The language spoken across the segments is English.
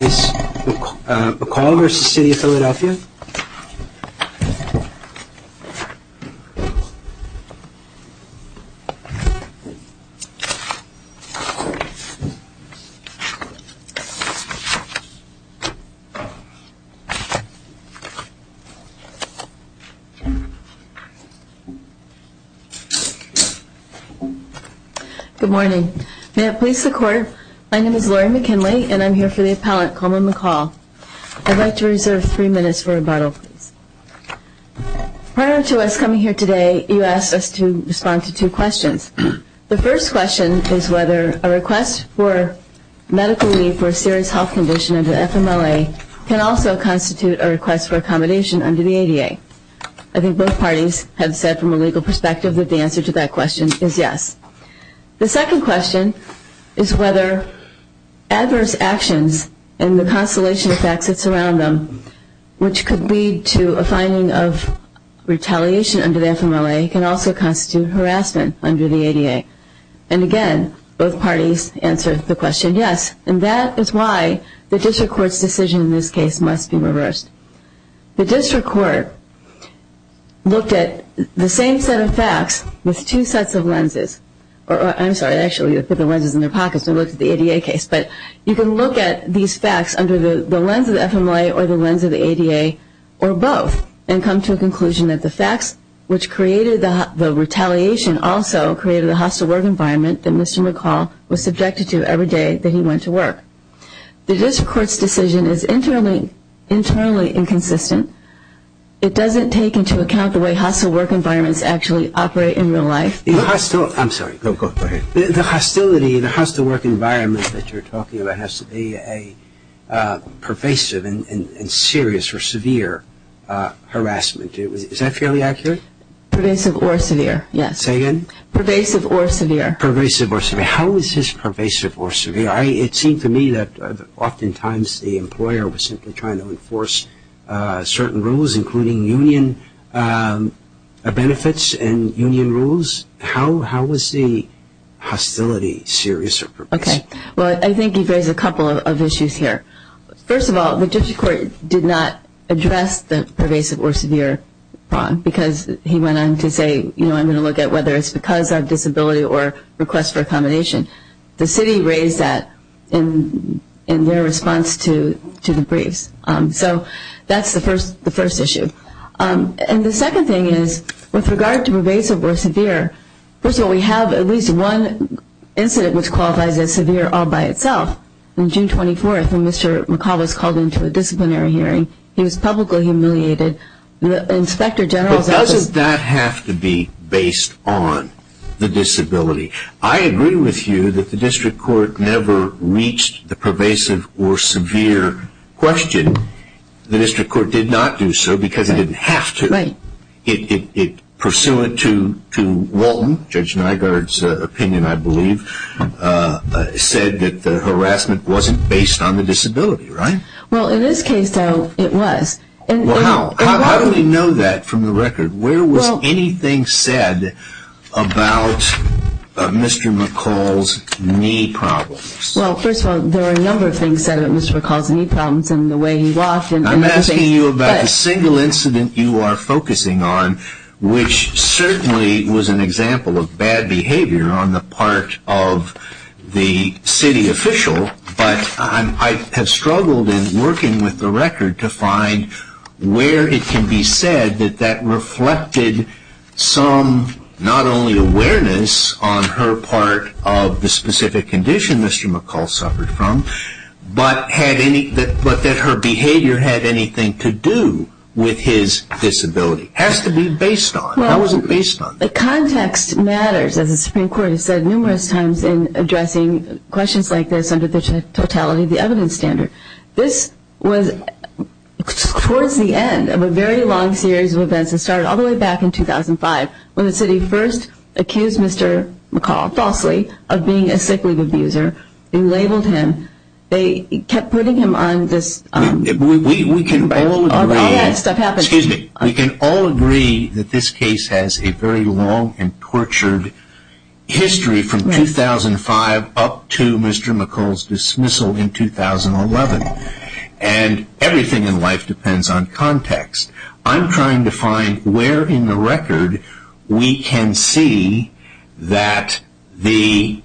Good morning. May it please the court, my name is Lori McKinley and I'm here for the first panel of witnesses before a judge. I'd like to reserve three minutes for rebuttal. Prior to us coming here today you asked us to respond to two questions. The first question is whether a request for medical need for a serious health condition under the FMLA can also constitute a request for accommodation under the ADA. I think both parties have said from a legal perspective that the answer to that question is yes. The second question is whether adverse actions and the constellation of facts that surround them, which could lead to a finding of retaliation under the FMLA, can also constitute harassment under the ADA. And again, both parties answered the question yes. And that is why the district court's decision in this case must be reversed. The district court looked at the same set of facts with two sets of lenses. I'm sorry, they actually put the lenses in their pockets and looked at the ADA case. But you can look at these facts under the lens of the FMLA or the lens of the ADA or both and come to a conclusion that the facts which created the retaliation also created a hostile work environment that Mr. McCall was subjected to every day that he went to work. The district court's decision is internally inconsistent. It doesn't take into account the way hostile work environments actually operate in real life. The hostility, I'm sorry, go ahead. The hostility, the hostile work environment that you're talking about has to be a pervasive and serious or severe harassment. Is that fairly accurate? Pervasive or severe, yes. Say again? Pervasive or severe. Pervasive or severe. How is this pervasive or severe? It seemed to me that oftentimes the employer was simply trying to enforce certain rules including union benefits and union rules. How is the hostility serious or pervasive? Okay. Well, I think you've raised a couple of issues here. First of all, the district court did not address the pervasive or severe problem because he went on to say, you know, I'm going to look at whether it's because of disability or request for accommodation. The city raised that in their response to the briefs. So that's the first issue. And the second thing is with regard to pervasive or severe, first of all, we have at least one incident which qualifies as severe all by itself. On June 24th when Mr. McCullough was called into a disciplinary hearing, he was publicly humiliated. The inspector general said, well, doesn't that have to be based on the disability? I agree with you that the district court never reached the pervasive or severe question. The district court did not do so because it didn't have to. It pursuant to Walton, Judge Nygaard's opinion, I believe, said that the harassment wasn't based on the disability, right? Well, in this case, it was. Well, how? How do we know that from the record? Where was anything said about Mr. McCullough's knee problems? Well, first of all, there were a number of things said about Mr. McCullough's knee problems and the way he walked. I'm asking you about the single incident you are focusing on, which certainly was an example of bad behavior on the part of the city official, but I have struggled in working with the record to find where it can be said that that reflected some, not only awareness on her part of the specific condition Mr. McCullough suffered from, but that her behavior had anything to do with his disability. It has to be based on. How is it based on? The context matters, as the Supreme Court has said numerous times in addressing questions like this under the totality of the evidence standard. This was towards the end of a very long series of events. It started all the way back in 2005 when the city first accused Mr. McCullough, falsely, of being a sick leave abuser. They labeled him. They kept putting him on this. We can all agree that this case has a very long and tortured history from 2005 up to Mr. McCullough's dismissal in 2011. Everything in life depends on context. I'm trying to find where in the record we can see that the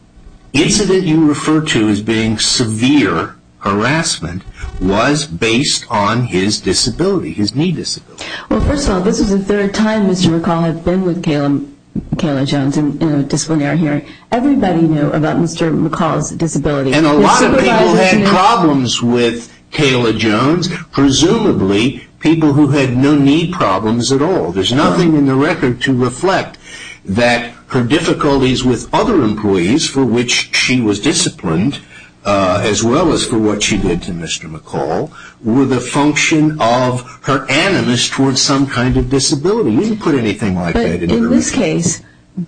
incident you refer to as being severe harassment was based on his disability, his knee disability. First of all, this is the third time Mr. McCullough has been with Kayla Jones in a disciplinary hearing. Everybody knew about Mr. McCullough's disability. A lot of people had problems with Kayla Jones, presumably people who had no knee problems at all. There's nothing in the record to reflect that her difficulties with other employees for which she was disciplined, as well as for what she did to Mr. McCullough, were the function of her animus towards some kind of disability. We didn't put anything like that in the record. In this case,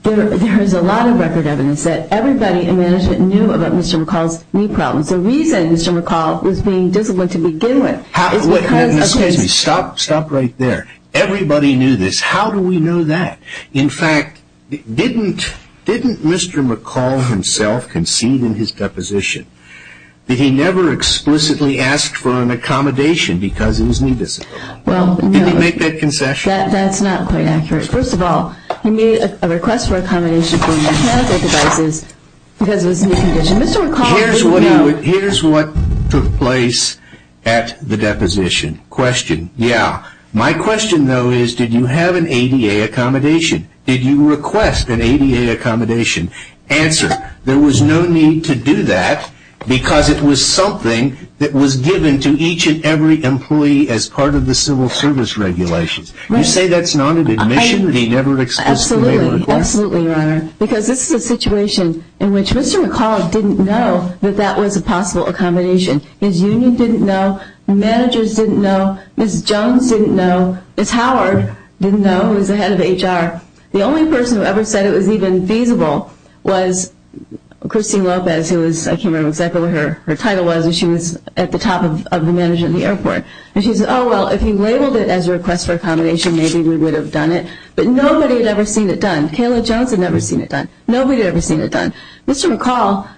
there is a lot of record evidence that everybody in management knew about Mr. McCullough's knee problems. The reason Mr. McCullough was being disciplined to begin with is because of his... Excuse me. Stop right there. Everybody knew this. How do we know that? In fact, didn't Mr. McCullough himself concede in his deposition that he never explicitly asked for an accommodation because of his knee disability? Did he make that concession? That's not quite accurate. First of all, he made a request for accommodation for mechanical devices because of his knee condition. Mr. McCullough didn't know. Here's what took place at the deposition. Question. Yeah. My question, though, is did you have an ADA accommodation? Did you request an ADA accommodation? Answer. There was no need to do that because it was something that was given to each and every employee as part of the civil service regulations. You say that's not an admission that he never explicitly made a request? Absolutely. Absolutely, Your Honor. This is a situation in which Mr. McCullough didn't know that that was a possible accommodation. His union didn't know. Managers didn't know. Ms. Jones didn't know. Ms. Howard didn't know, who was the head of HR. The only person who ever said it was even feasible was Christine Lopez, who I can't remember exactly what her title was. She was at the top of the management of the airport. She said, oh, well, if he labeled it as a request for accommodation, maybe we would have done it. But nobody had ever seen it done. Kayla Jones had never seen it done. Nobody had ever seen it done. Mr. McCullough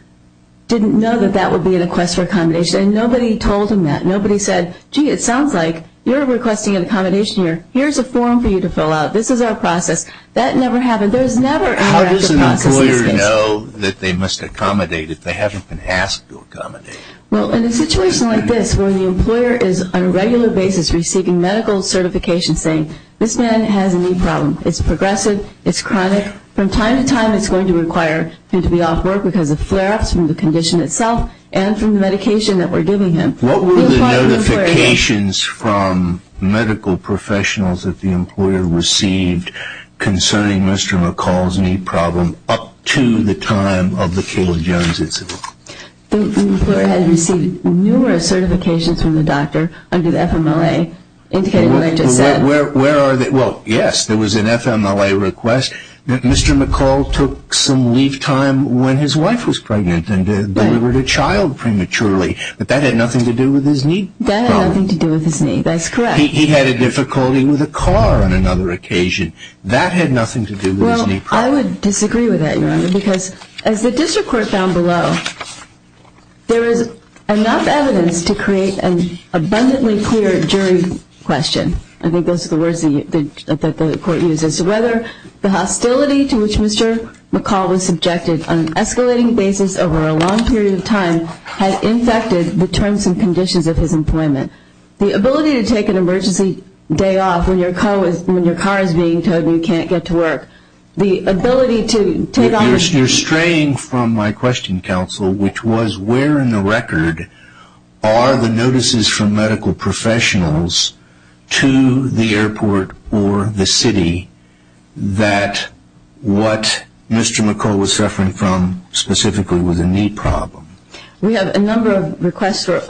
didn't know that that would be a request for accommodation. Nobody told him that. Nobody said, gee, it sounds like you're requesting an accommodation here. Here's a form for you to fill out. This is our process. That never happened. There's never an active process in this case. How does an employer know that they must accommodate if they haven't been asked to accommodate? Well, in a situation like this where the employer is on a regular basis receiving medical certification saying this man has a knee problem, it's progressive, it's chronic, from time to time it's going to require him to be off work because of flare-ups from the condition itself and from the medication that we're giving him. What were the notifications from medical professionals that the employer received concerning Mr. McCullough's knee problem up to the time of the Kayla Jones incident? The employer had received numerous certifications from the doctor under the FMLA indicating what I just said. Where are they? Well, yes, there was an FMLA request that Mr. McCullough took some leave time when his wife was pregnant and delivered a child prematurely. But that had nothing to do with his knee problem. That had nothing to do with his knee. That's correct. He had a difficulty with a car on another occasion. That had nothing to do with his knee problem. Well, I would disagree with that, Your Honor, because as the district court found below, there is enough evidence to create an abundantly clear jury question. I think those are the words that the court uses. Whether the hostility to which Mr. McCullough was subjected on an emergency day off when your car is being towed and you can't get to work. You're straying from my question, counsel, which was where in the record are the notices from medical professionals to the airport or the city that what Mr. McCullough was suffering from specifically was a knee problem? We have a number of requests for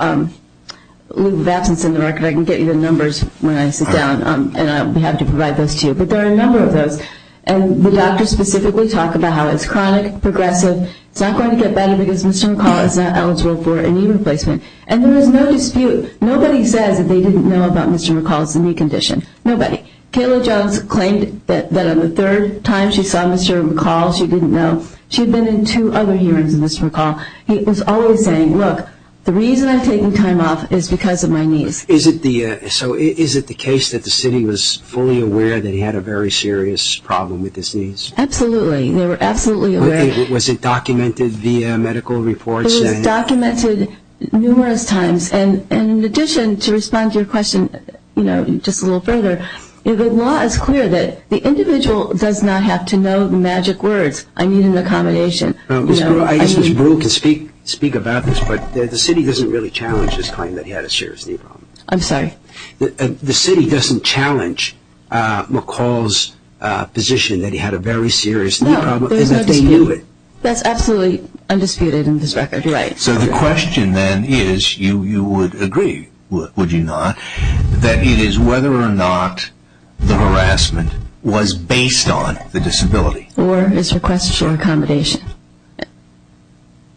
leave of absence in the record. I can get you the numbers when I sit down and we have to provide those to you. But there are a number of those. And the doctors specifically talk about how it's chronic, progressive. It's not going to get better because Mr. McCullough is not eligible for a knee replacement. And there is no dispute. Nobody says that they didn't know about Mr. McCullough's knee condition. Nobody. Kayla Jones claimed that on the third time she saw Mr. McCullough, she didn't know. She had been in two other hearings of Mr. McCullough. He was always saying, look, the reason I'm taking time off is because of my knees. Is it the case that the city was fully aware that he had a very serious problem with his knees? Absolutely. They were absolutely aware. Was it documented via medical reports? It was documented numerous times. And in addition, to respond to your question just a little further, the law is clear that the individual does not have to know magic words. I mean, it's an accommodation. I guess Ms. Brewer can speak about this, but the city doesn't really challenge his claim that he had a serious knee problem. I'm sorry? The city doesn't challenge McCullough's position that he had a very serious knee problem, even if they knew it. That's absolutely undisputed in this record. Right. So the question then is, you would agree, would you not, that it is whether or not the harassment was based on the disability. Or his request for accommodation,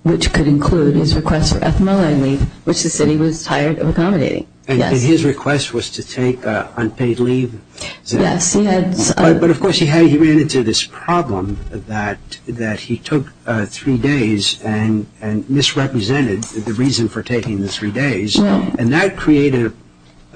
which could include his request for ethnoline leave, which the city was tired of accommodating. And his request was to take unpaid leave? Yes. But of course, he ran into this problem that he took three days and misrepresented the reason for taking the three days. And that created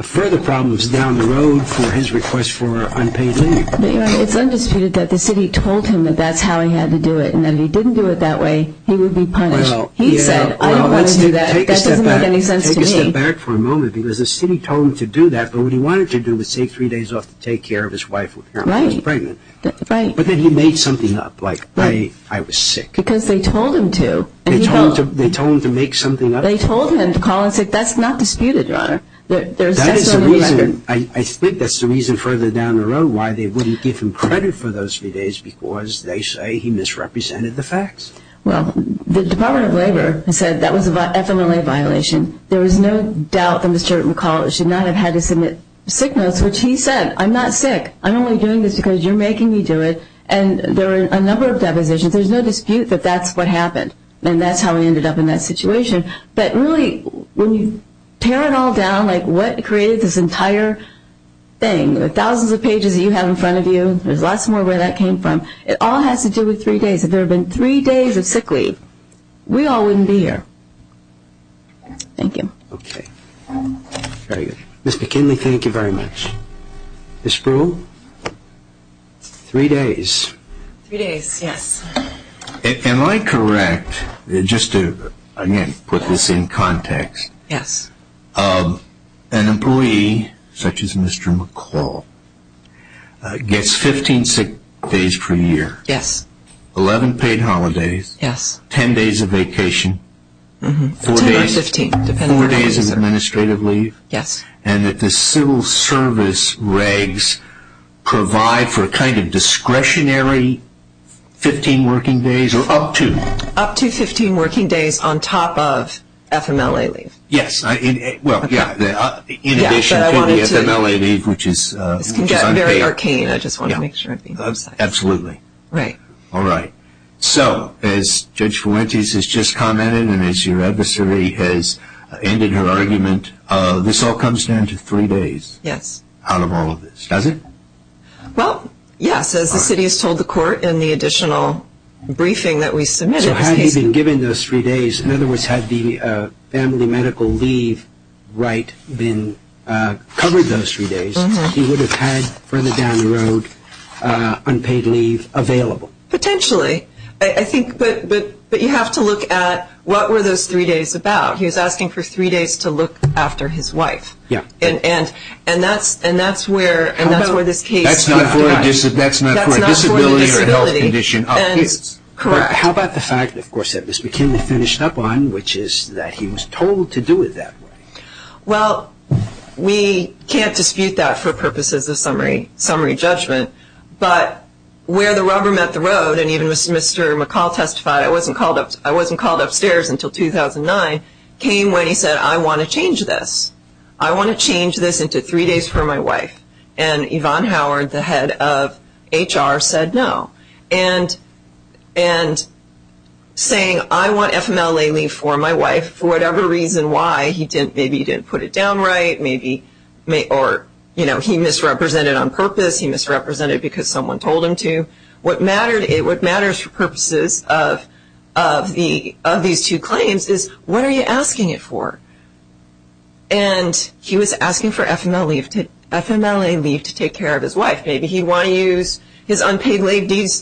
further problems down the road for his request for unpaid leave. It's undisputed that the city told him that that's how he had to do it. And if he didn't do it that way, he would be punished. He said, I don't want to do that. That doesn't make any sense to me. Well, let's take a step back for a moment, because the city told him to do that. But what he wanted to do was take three days off to take care of his wife when he was pregnant. But then he made something up, like, I was sick. Because they told him to. They told him to make something up. They told him to call and say, that's not disputed, Your Honor. That is the reason. I think that's the reason further down the road why they wouldn't give him credit for those three days, because they say he misrepresented the facts. Well, the Department of Labor said that was an FMLA violation. There is no doubt that Mr. McCulloch should not have had to submit sick notes, which he said, I'm not sick. I'm only doing this because you're making me do it. And there were a number of depositions. There's no dispute that that's what happened. And that's how he ended up in that situation. But really, when you tear it all down, like, what created this entire thing, the thousands of pages that you have in front of you, there's lots more where that came from. It all has to do with three days. If there had been three days of sick leave, we all wouldn't be here. Thank you. OK. Very good. Ms. McKinley, thank you very much. Ms. Spruill? Three days. Three days, yes. Am I correct, just to, again, put this in context? Yes. An employee, such as Mr. McCulloch, gets 15 sick days per year. Yes. 11 paid holidays. Yes. 10 days of vacation. 10 or 15. Four days of administrative leave. Yes. And that the civil service regs provide for a kind of discretionary 15 working days, or up to? Up to 15 working days on top of FMLA leave. Yes. Well, yeah, in addition to the FMLA leave, which is unpaid. This can get very arcane. I just want to make sure I'm being concise. Absolutely. Right. All right. So as Judge Fuentes has just commented, and as your adversary has ended her argument, this all comes down to three days. Yes. Out of all of this, does it? Well, yes. As the city has told the court in the additional briefing that we submitted. So had he been given those three days, in other words, had the family medical leave right been covered those three days, he would have had further down the road unpaid leave available. Potentially. I think, but you have to look at what were those three days about. He was asking for three days to look after his wife. Yeah. And that's where this case. That's not for a disability or health condition of kids. Correct. How about the fact, of course, that Mr. McKinley finished up on, which is that he was told to do it that way. Well, we can't dispute that for purposes of summary judgment. But where the rubber met the road, and even Mr. McCall testified, I wasn't called upstairs until 2009, came when he said, I want to change this. I want to change this into three days for my wife. And Yvonne Howard, the head of HR, said no. And saying, I want FMLA leave for my wife for whatever reason why. He didn't, maybe he didn't put it down right. Maybe, or, you know, he misrepresented on purpose. He misrepresented because someone told him to. What matters for purposes of these two claims is, what are you asking it for? And he was asking for FMLA leave to take care of his wife. Maybe he wanted to use his unpaid leave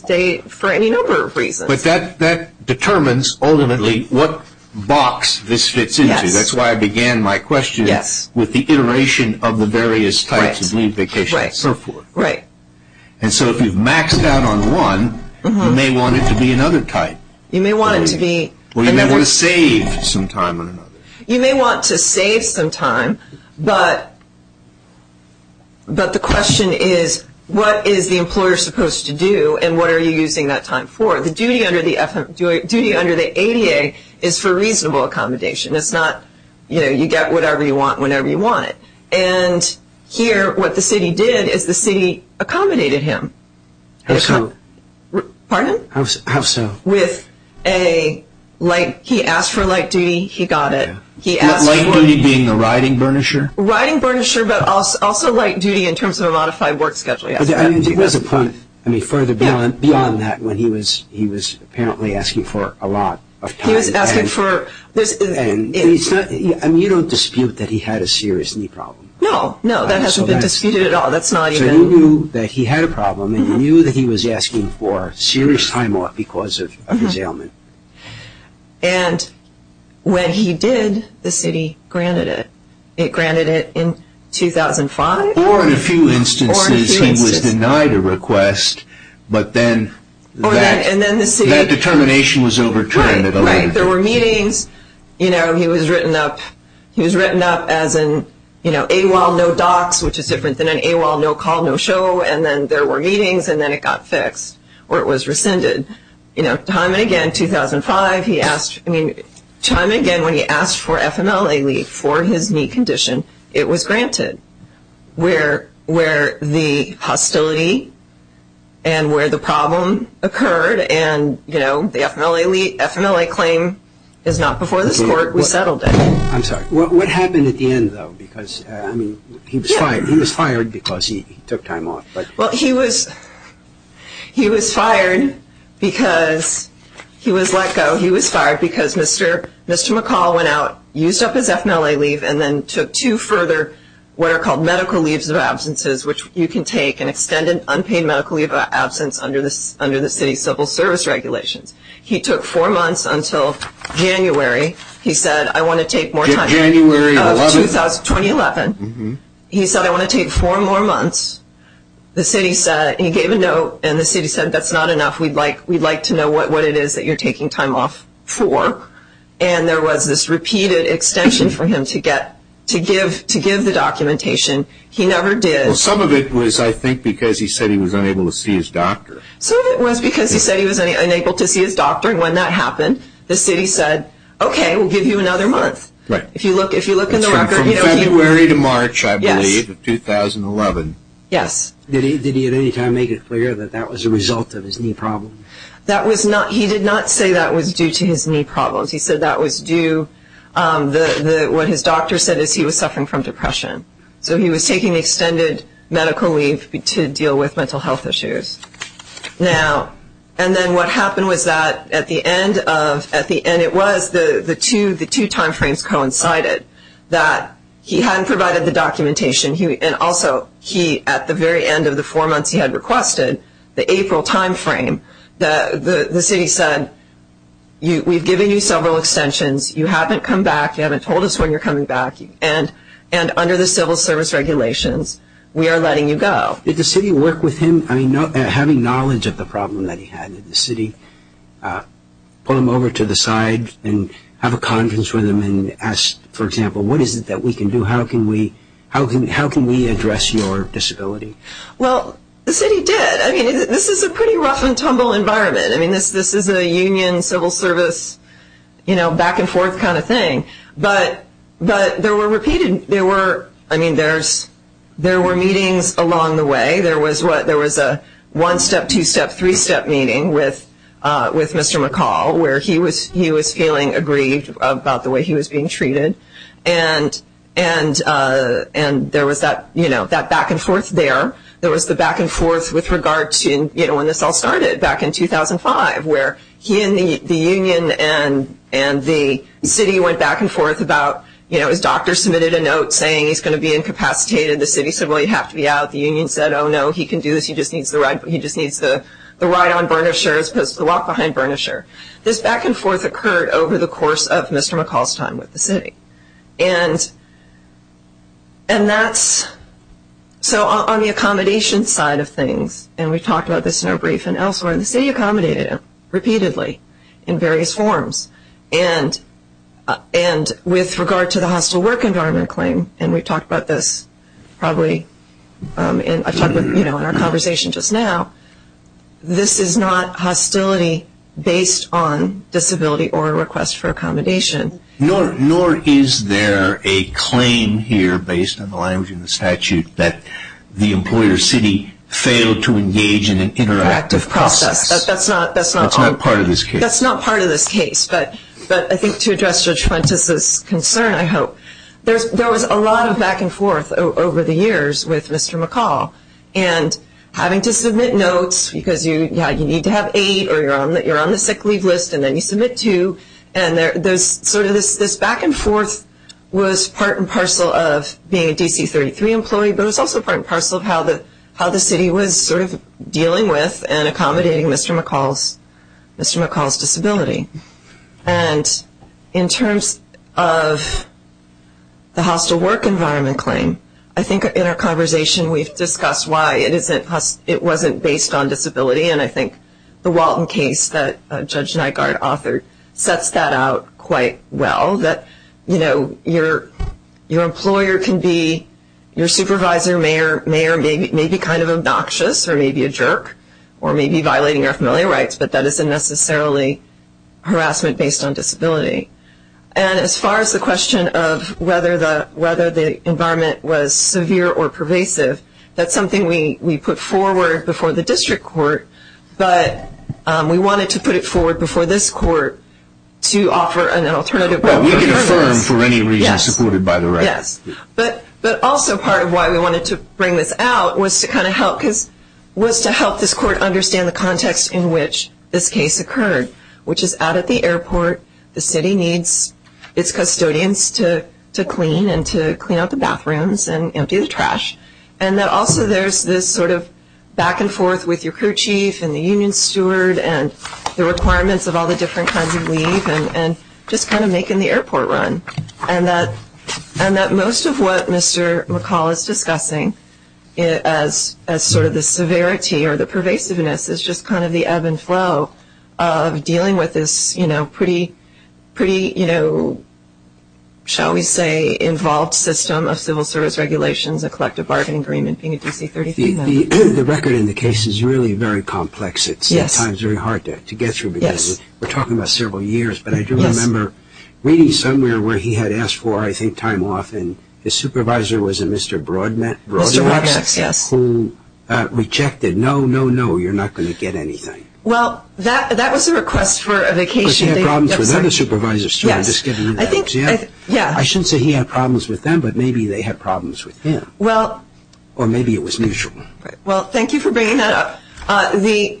for any number of reasons. But that determines, ultimately, what box this fits into. That's why I began my question with the iteration of the various types of leave vacations. Right. And so if you've maxed out on one, you may want it to be another type. You may want it to be. Or you may want to save some time on another. You may want to save some time, but the question is, what is the employer supposed to do? And what are you using that time for? The duty under the ADA is for reasonable accommodation. It's not, you know, you get whatever you want whenever you want it. And here, what the city did is the city accommodated him. How so? Pardon? How so? With a light. He asked for light duty. He got it. He asked for... Light duty being the riding burnisher? Riding burnisher, but also light duty in terms of a modified work schedule, yes. I mean, there was a point, I mean, further beyond that when he was apparently asking for a lot of time. He was asking for... I mean, you don't dispute that he had a serious knee problem. No, no, that hasn't been disputed at all. That's not even... So you knew that he had a problem, and you knew that he was asking for serious time off because of his ailment. And when he did, the city granted it. It granted it in 2005. Or in a few instances, he was denied a request, but then that determination was overturned at 11. There were meetings. He was written up as an AWOL no docs, which is different than an AWOL no call, no show. And then there were meetings, and then it got fixed, or it was rescinded. Time and again, 2005, he asked... I mean, time and again, when he asked for FMLA leave for his knee condition, it was granted. Where the hostility and where the problem occurred and, you know, the FMLA claim is not before this court, we settled it. I'm sorry, what happened at the end, though? Because, I mean, he was fired. He was fired because he took time off, but... Well, he was fired because he was let go. He was fired because Mr. McCall went out, used up his FMLA leave, and then took two further, what are called medical leaves of absences, which you can take an extended unpaid medical leave of absence under the city's civil service regulations. He took four months until January. He said, I want to take more time. January of 2011? 2011. He said, I want to take four more months. The city said... He gave a note, and the city said, that's not enough. We'd like to know what it is that you're taking time off for. And there was this repeated extension for him to give the documentation. He never did. Some of it was, I think, because he said he was unable to see his doctor. Some of it was because he said he was unable to see his doctor. And when that happened, the city said, okay, we'll give you another month. Right. If you look in the record... From February to March, I believe, of 2011. Yes. Did he at any time make it clear that that was a result of his knee problem? That was not... He did not say that was due to his knee problems. He said that was due... What his doctor said is he was suffering from depression. So he was taking extended medical leave to deal with mental health issues. Now... And then what happened was that at the end of... At the end, it was the two time frames coincided that he hadn't provided the documentation. And also, he, at the very end of the four months he had requested, the April time frame, the city said, we've given you several extensions. You haven't come back. You haven't told us when you're coming back. And under the civil service regulations, we are letting you go. Did the city work with him? I mean, having knowledge of the problem that he had, did the city pull him over to the side and have a conference with him and ask, for example, what is it that we can do? How can we address your disability? Well, the city did. I mean, this is a pretty rough and tumble environment. I mean, this is a union, civil service, you know, back and forth kind of thing. But there were repeated... There were... I mean, there were meetings along the way. There was a one step, two step, three step meeting with Mr. McCall, where he was feeling aggrieved about the way he was being treated. And there was that, you know, that back and forth there. There was the back and forth with regard to, you know, when this all started back in 2005, where he and the union and the city went back and forth about, you know, his doctor submitted a note saying he's going to be incapacitated. The city said, well, you have to be out. The union said, oh no, he can do this. He just needs the ride. He just needs the ride on Burnisher as opposed to the walk behind Burnisher. This back and forth occurred over the course of Mr. McCall's time with the city. And that's... So on the accommodation side of things, and we've talked about this in our brief and elsewhere, the city accommodated him repeatedly in various forms. And with regard to the hostile work environment claim, and we've talked about this probably in our conversation just now, nor is there a claim here, based on the language in the statute, that the employer city failed to engage in an interactive process. That's not part of this case. That's not part of this case. But I think to address Judge Fuentes' concern, I hope, there was a lot of back and forth over the years with Mr. McCall. And having to submit notes because, yeah, you need to have aid, or you're on the sick leave list, and then you submit two. And there's sort of this back and forth was part and parcel of being a DC33 employee, but it was also part and parcel of how the city was sort of dealing with and accommodating Mr. McCall's disability. And in terms of the hostile work environment claim, I think in our conversation we've discussed why it wasn't based on disability. And I think the Walton case that Judge Nygaard authored sets that out quite well, that your employer can be, your supervisor may be kind of obnoxious, or maybe a jerk, or maybe violating our familiar rights, but that isn't necessarily harassment based on disability. And as far as the question of whether the environment was severe or pervasive, that's something we put forward before the district court, but we wanted to put it forward before this court to offer an alternative. Well, we can affirm for any reason supported by the record. Yes. But also part of why we wanted to bring this out was to kind of help, was to help this court understand the context in which this case occurred, which is out at the airport, the city needs its custodians to clean and to clean out the bathrooms and empty the trash. And that also there's this sort of back and forth with your crew chief and the union steward and the requirements of all the different kinds of leave and just kind of making the airport run. And that most of what Mr. McCall is discussing as sort of the severity or the pervasiveness is just kind of the ebb and flow of dealing with this pretty, shall we say, involved system of civil service regulations, a collective bargaining agreement, being a DC33 member. The record in the case is really very complex. It's at times very hard to get through because we're talking about several years, but I do remember reading somewhere where he had asked for, I think, time off and his supervisor was a Mr. Broadnax, who rejected, no, no, no, you're not going to get anything. Well, that was a request for a vacation. Because he had problems with other supervisors, too, I'm just giving you that. Yes. I shouldn't say he had problems with them, but maybe they had problems with him. Well. Or maybe it was mutual. Well, thank you for bringing that up. The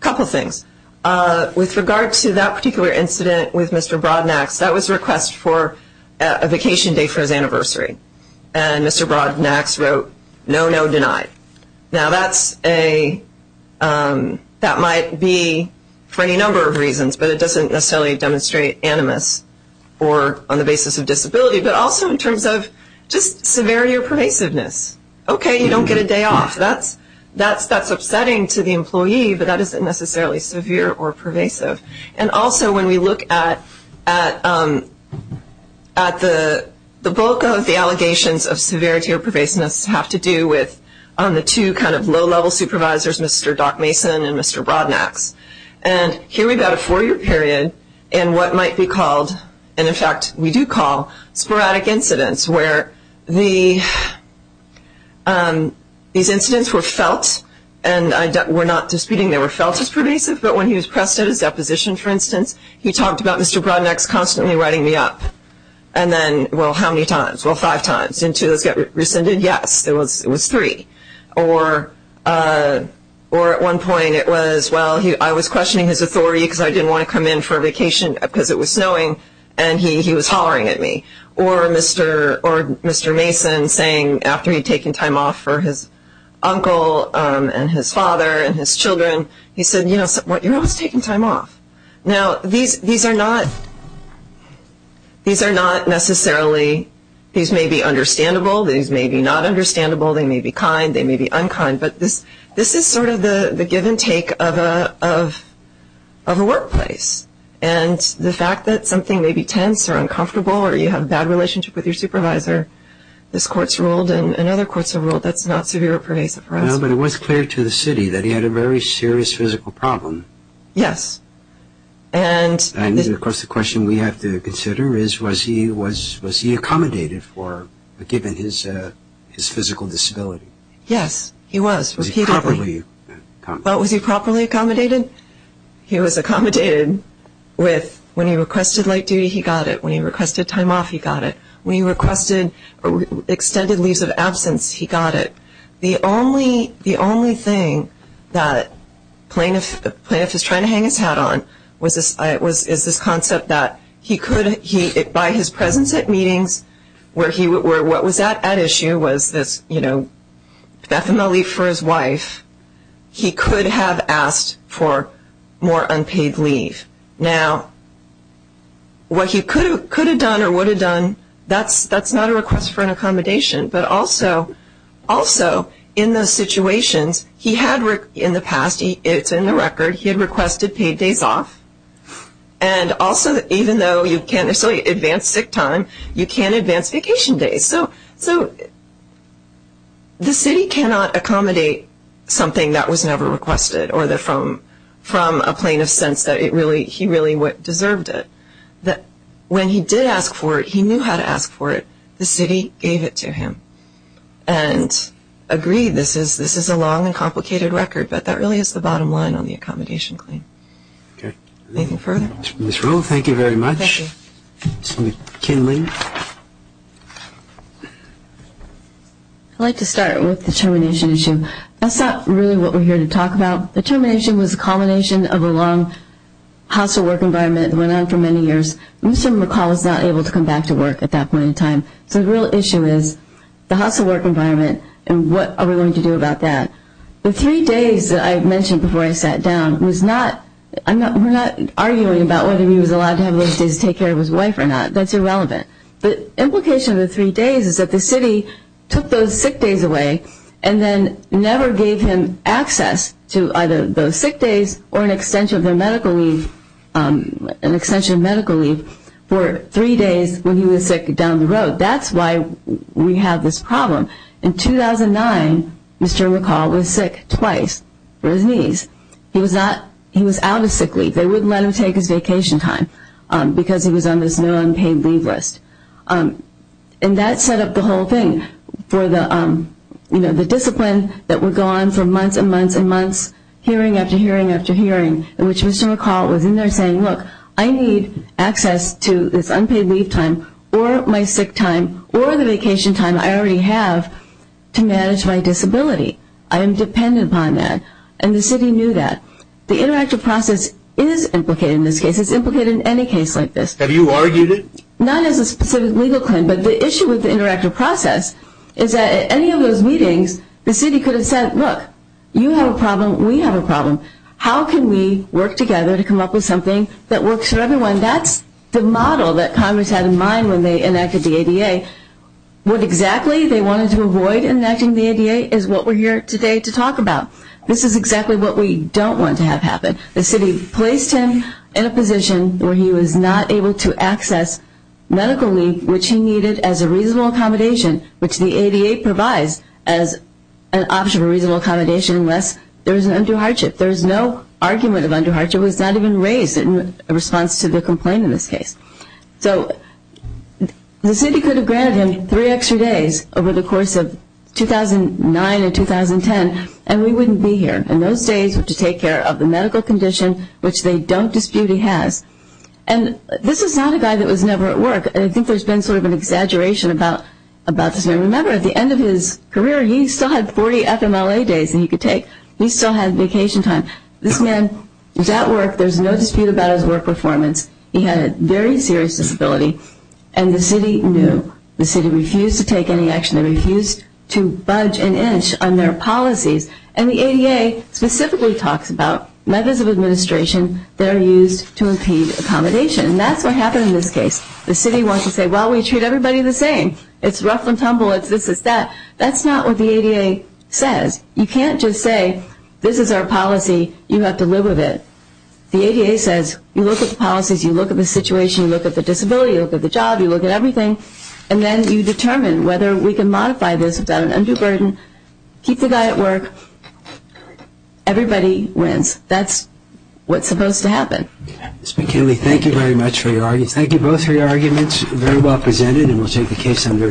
couple of things, with regard to that particular incident with Mr. Broadnax, that was a request for a vacation day for his anniversary. And Mr. Broadnax wrote, no, no, denied. Now, that's a, that might be for any number of reasons, but it doesn't necessarily demonstrate animus or on the basis of disability, but also in terms of just severity or pervasiveness. Okay, you don't get a day off. That's upsetting to the employee, but that isn't necessarily severe or pervasive. And also, when we look at the bulk of the allegations of severity or pervasiveness have to do with the two kind of low-level supervisors, Mr. Doc Mason and Mr. Broadnax. And here we've got a four-year period in what might be called, and in fact, we do call sporadic incidents, where the, these incidents were felt, and we're not disputing they were felt as pervasive, but when he was pressed at his deposition, for instance, he talked about Mr. Broadnax constantly writing me up. And then, well, how many times? Well, five times. And two of those got rescinded? Yes, it was three. Or at one point, it was, well, I was questioning his authority because I didn't want to come in for a vacation because it was snowing, and he was hollering at me. Or Mr. Mason saying, after he'd taken time off for his uncle and his father and his children, he said, you know what, you're always taking time off. Now, these are not necessarily, these may be understandable. These may be not understandable. They may be kind. They may be unkind. But this is sort of the give and take of a workplace. And the fact that something may be tense or uncomfortable or you have a bad relationship with your supervisor, this court's ruled and other courts have ruled that's not severe or pervasive for us. No, but it was clear to the city that he had a very serious physical problem. Yes. And of course, the question we have to consider is, was he accommodated for, given his physical disability? Yes, he was, repeatedly. Was he properly accommodated? Well, was he properly accommodated? He was accommodated with, when he requested late duty, he got it. When he requested time off, he got it. When he requested extended leaves of absence, he got it. The only thing that the plaintiff is trying to hang his hat on is this concept that he could, by his presence at meetings, what was at issue was this, you know, definitely for his wife, he could have asked for more unpaid leave. Now, what he could have done or would have done, that's not a request for an accommodation. But also, in those situations, he had, in the past, it's in the record, he had requested paid days off. And also, even though you can't necessarily advance sick time, you can't advance vacation days. So the city cannot accommodate something that was never requested or from a plaintiff's sense that he really deserved it. When he did ask for it, he knew how to ask for it. The city gave it to him and agreed, this is a long and complicated record, but that really is the bottom line on the accommodation claim. Okay. Anything further? Ms. Rowe, thank you very much. Thank you. Ms. McKinley. I'd like to start with the termination issue. That's not really what we're here to talk about. The termination was a culmination of a long hassle work environment that went on for many years. Mr. McCall was not able to come back to work at that point in time. So the real issue is the hassle work environment and what are we going to do about that. The three days that I mentioned before I sat down, we're not arguing about whether he was allowed to have those days to take care of his wife or not. That's irrelevant. The implication of the three days is that the city took those sick days away and then never gave him access to either those sick days or an extension of medical leave for three days when he was sick down the road. That's why we have this problem. In 2009, Mr. McCall was sick twice for his knees. He was out of sick leave. They wouldn't let him take his vacation time because he was on this no unpaid leave list. And that set up the whole thing for the discipline that would go on for months and months and months, hearing after hearing after hearing, in which Mr. McCall was in there saying, look, I need access to this unpaid leave time or my sick time or the vacation time I already have to manage my disability. I am dependent upon that. And the city knew that. The interactive process is implicated in this case. It's implicated in any case like this. Have you argued it? Not as a specific legal claim, but the issue with the interactive process is that at any of those meetings, the city could have said, look, you have a problem. We have a problem. How can we work together to come up with something that works for everyone? That's the model that Congress had in mind when they enacted the ADA. What exactly they wanted to avoid in enacting the ADA is what we're here today to talk about. This is exactly what we don't want to have happen. The city placed him in a position where he was not able to access medical leave, which he needed as a reasonable accommodation, which the ADA provides as an option for reasonable accommodation unless there was an undue hardship. There was no argument of undue hardship. It was not even raised in response to the complaint in this case. So the city could have granted him three extra days over the course of 2009 and 2010, and we wouldn't be here in those days to take care of the medical condition, which they don't dispute he has. And this is not a guy that was never at work. And I think there's been sort of an exaggeration about this man. Remember, at the end of his career, he still had 40 FMLA days that he could take. He still had vacation time. This man was at work. There's no dispute about his work performance. He had a very serious disability. And the city knew. The city refused to take any action. They refused to budge an inch on their policies. And the ADA specifically talks about methods of administration that are used to impede accommodation. And that's what happened in this case. The city wants to say, well, we treat everybody the same. It's rough and tumble. It's this, it's that. That's not what the ADA says. You can't just say, this is our policy. You have to live with it. The ADA says, you look at the policies. You look at the situation. You look at the disability. You look at the job. You look at everything. And then you determine whether we can modify this without an undue burden, keep the guy at work. Everybody wins. That's what's supposed to happen. Mr. McKinley, thank you very much for your arguments. Thank you both for your arguments. Very well presented. And we'll take the case under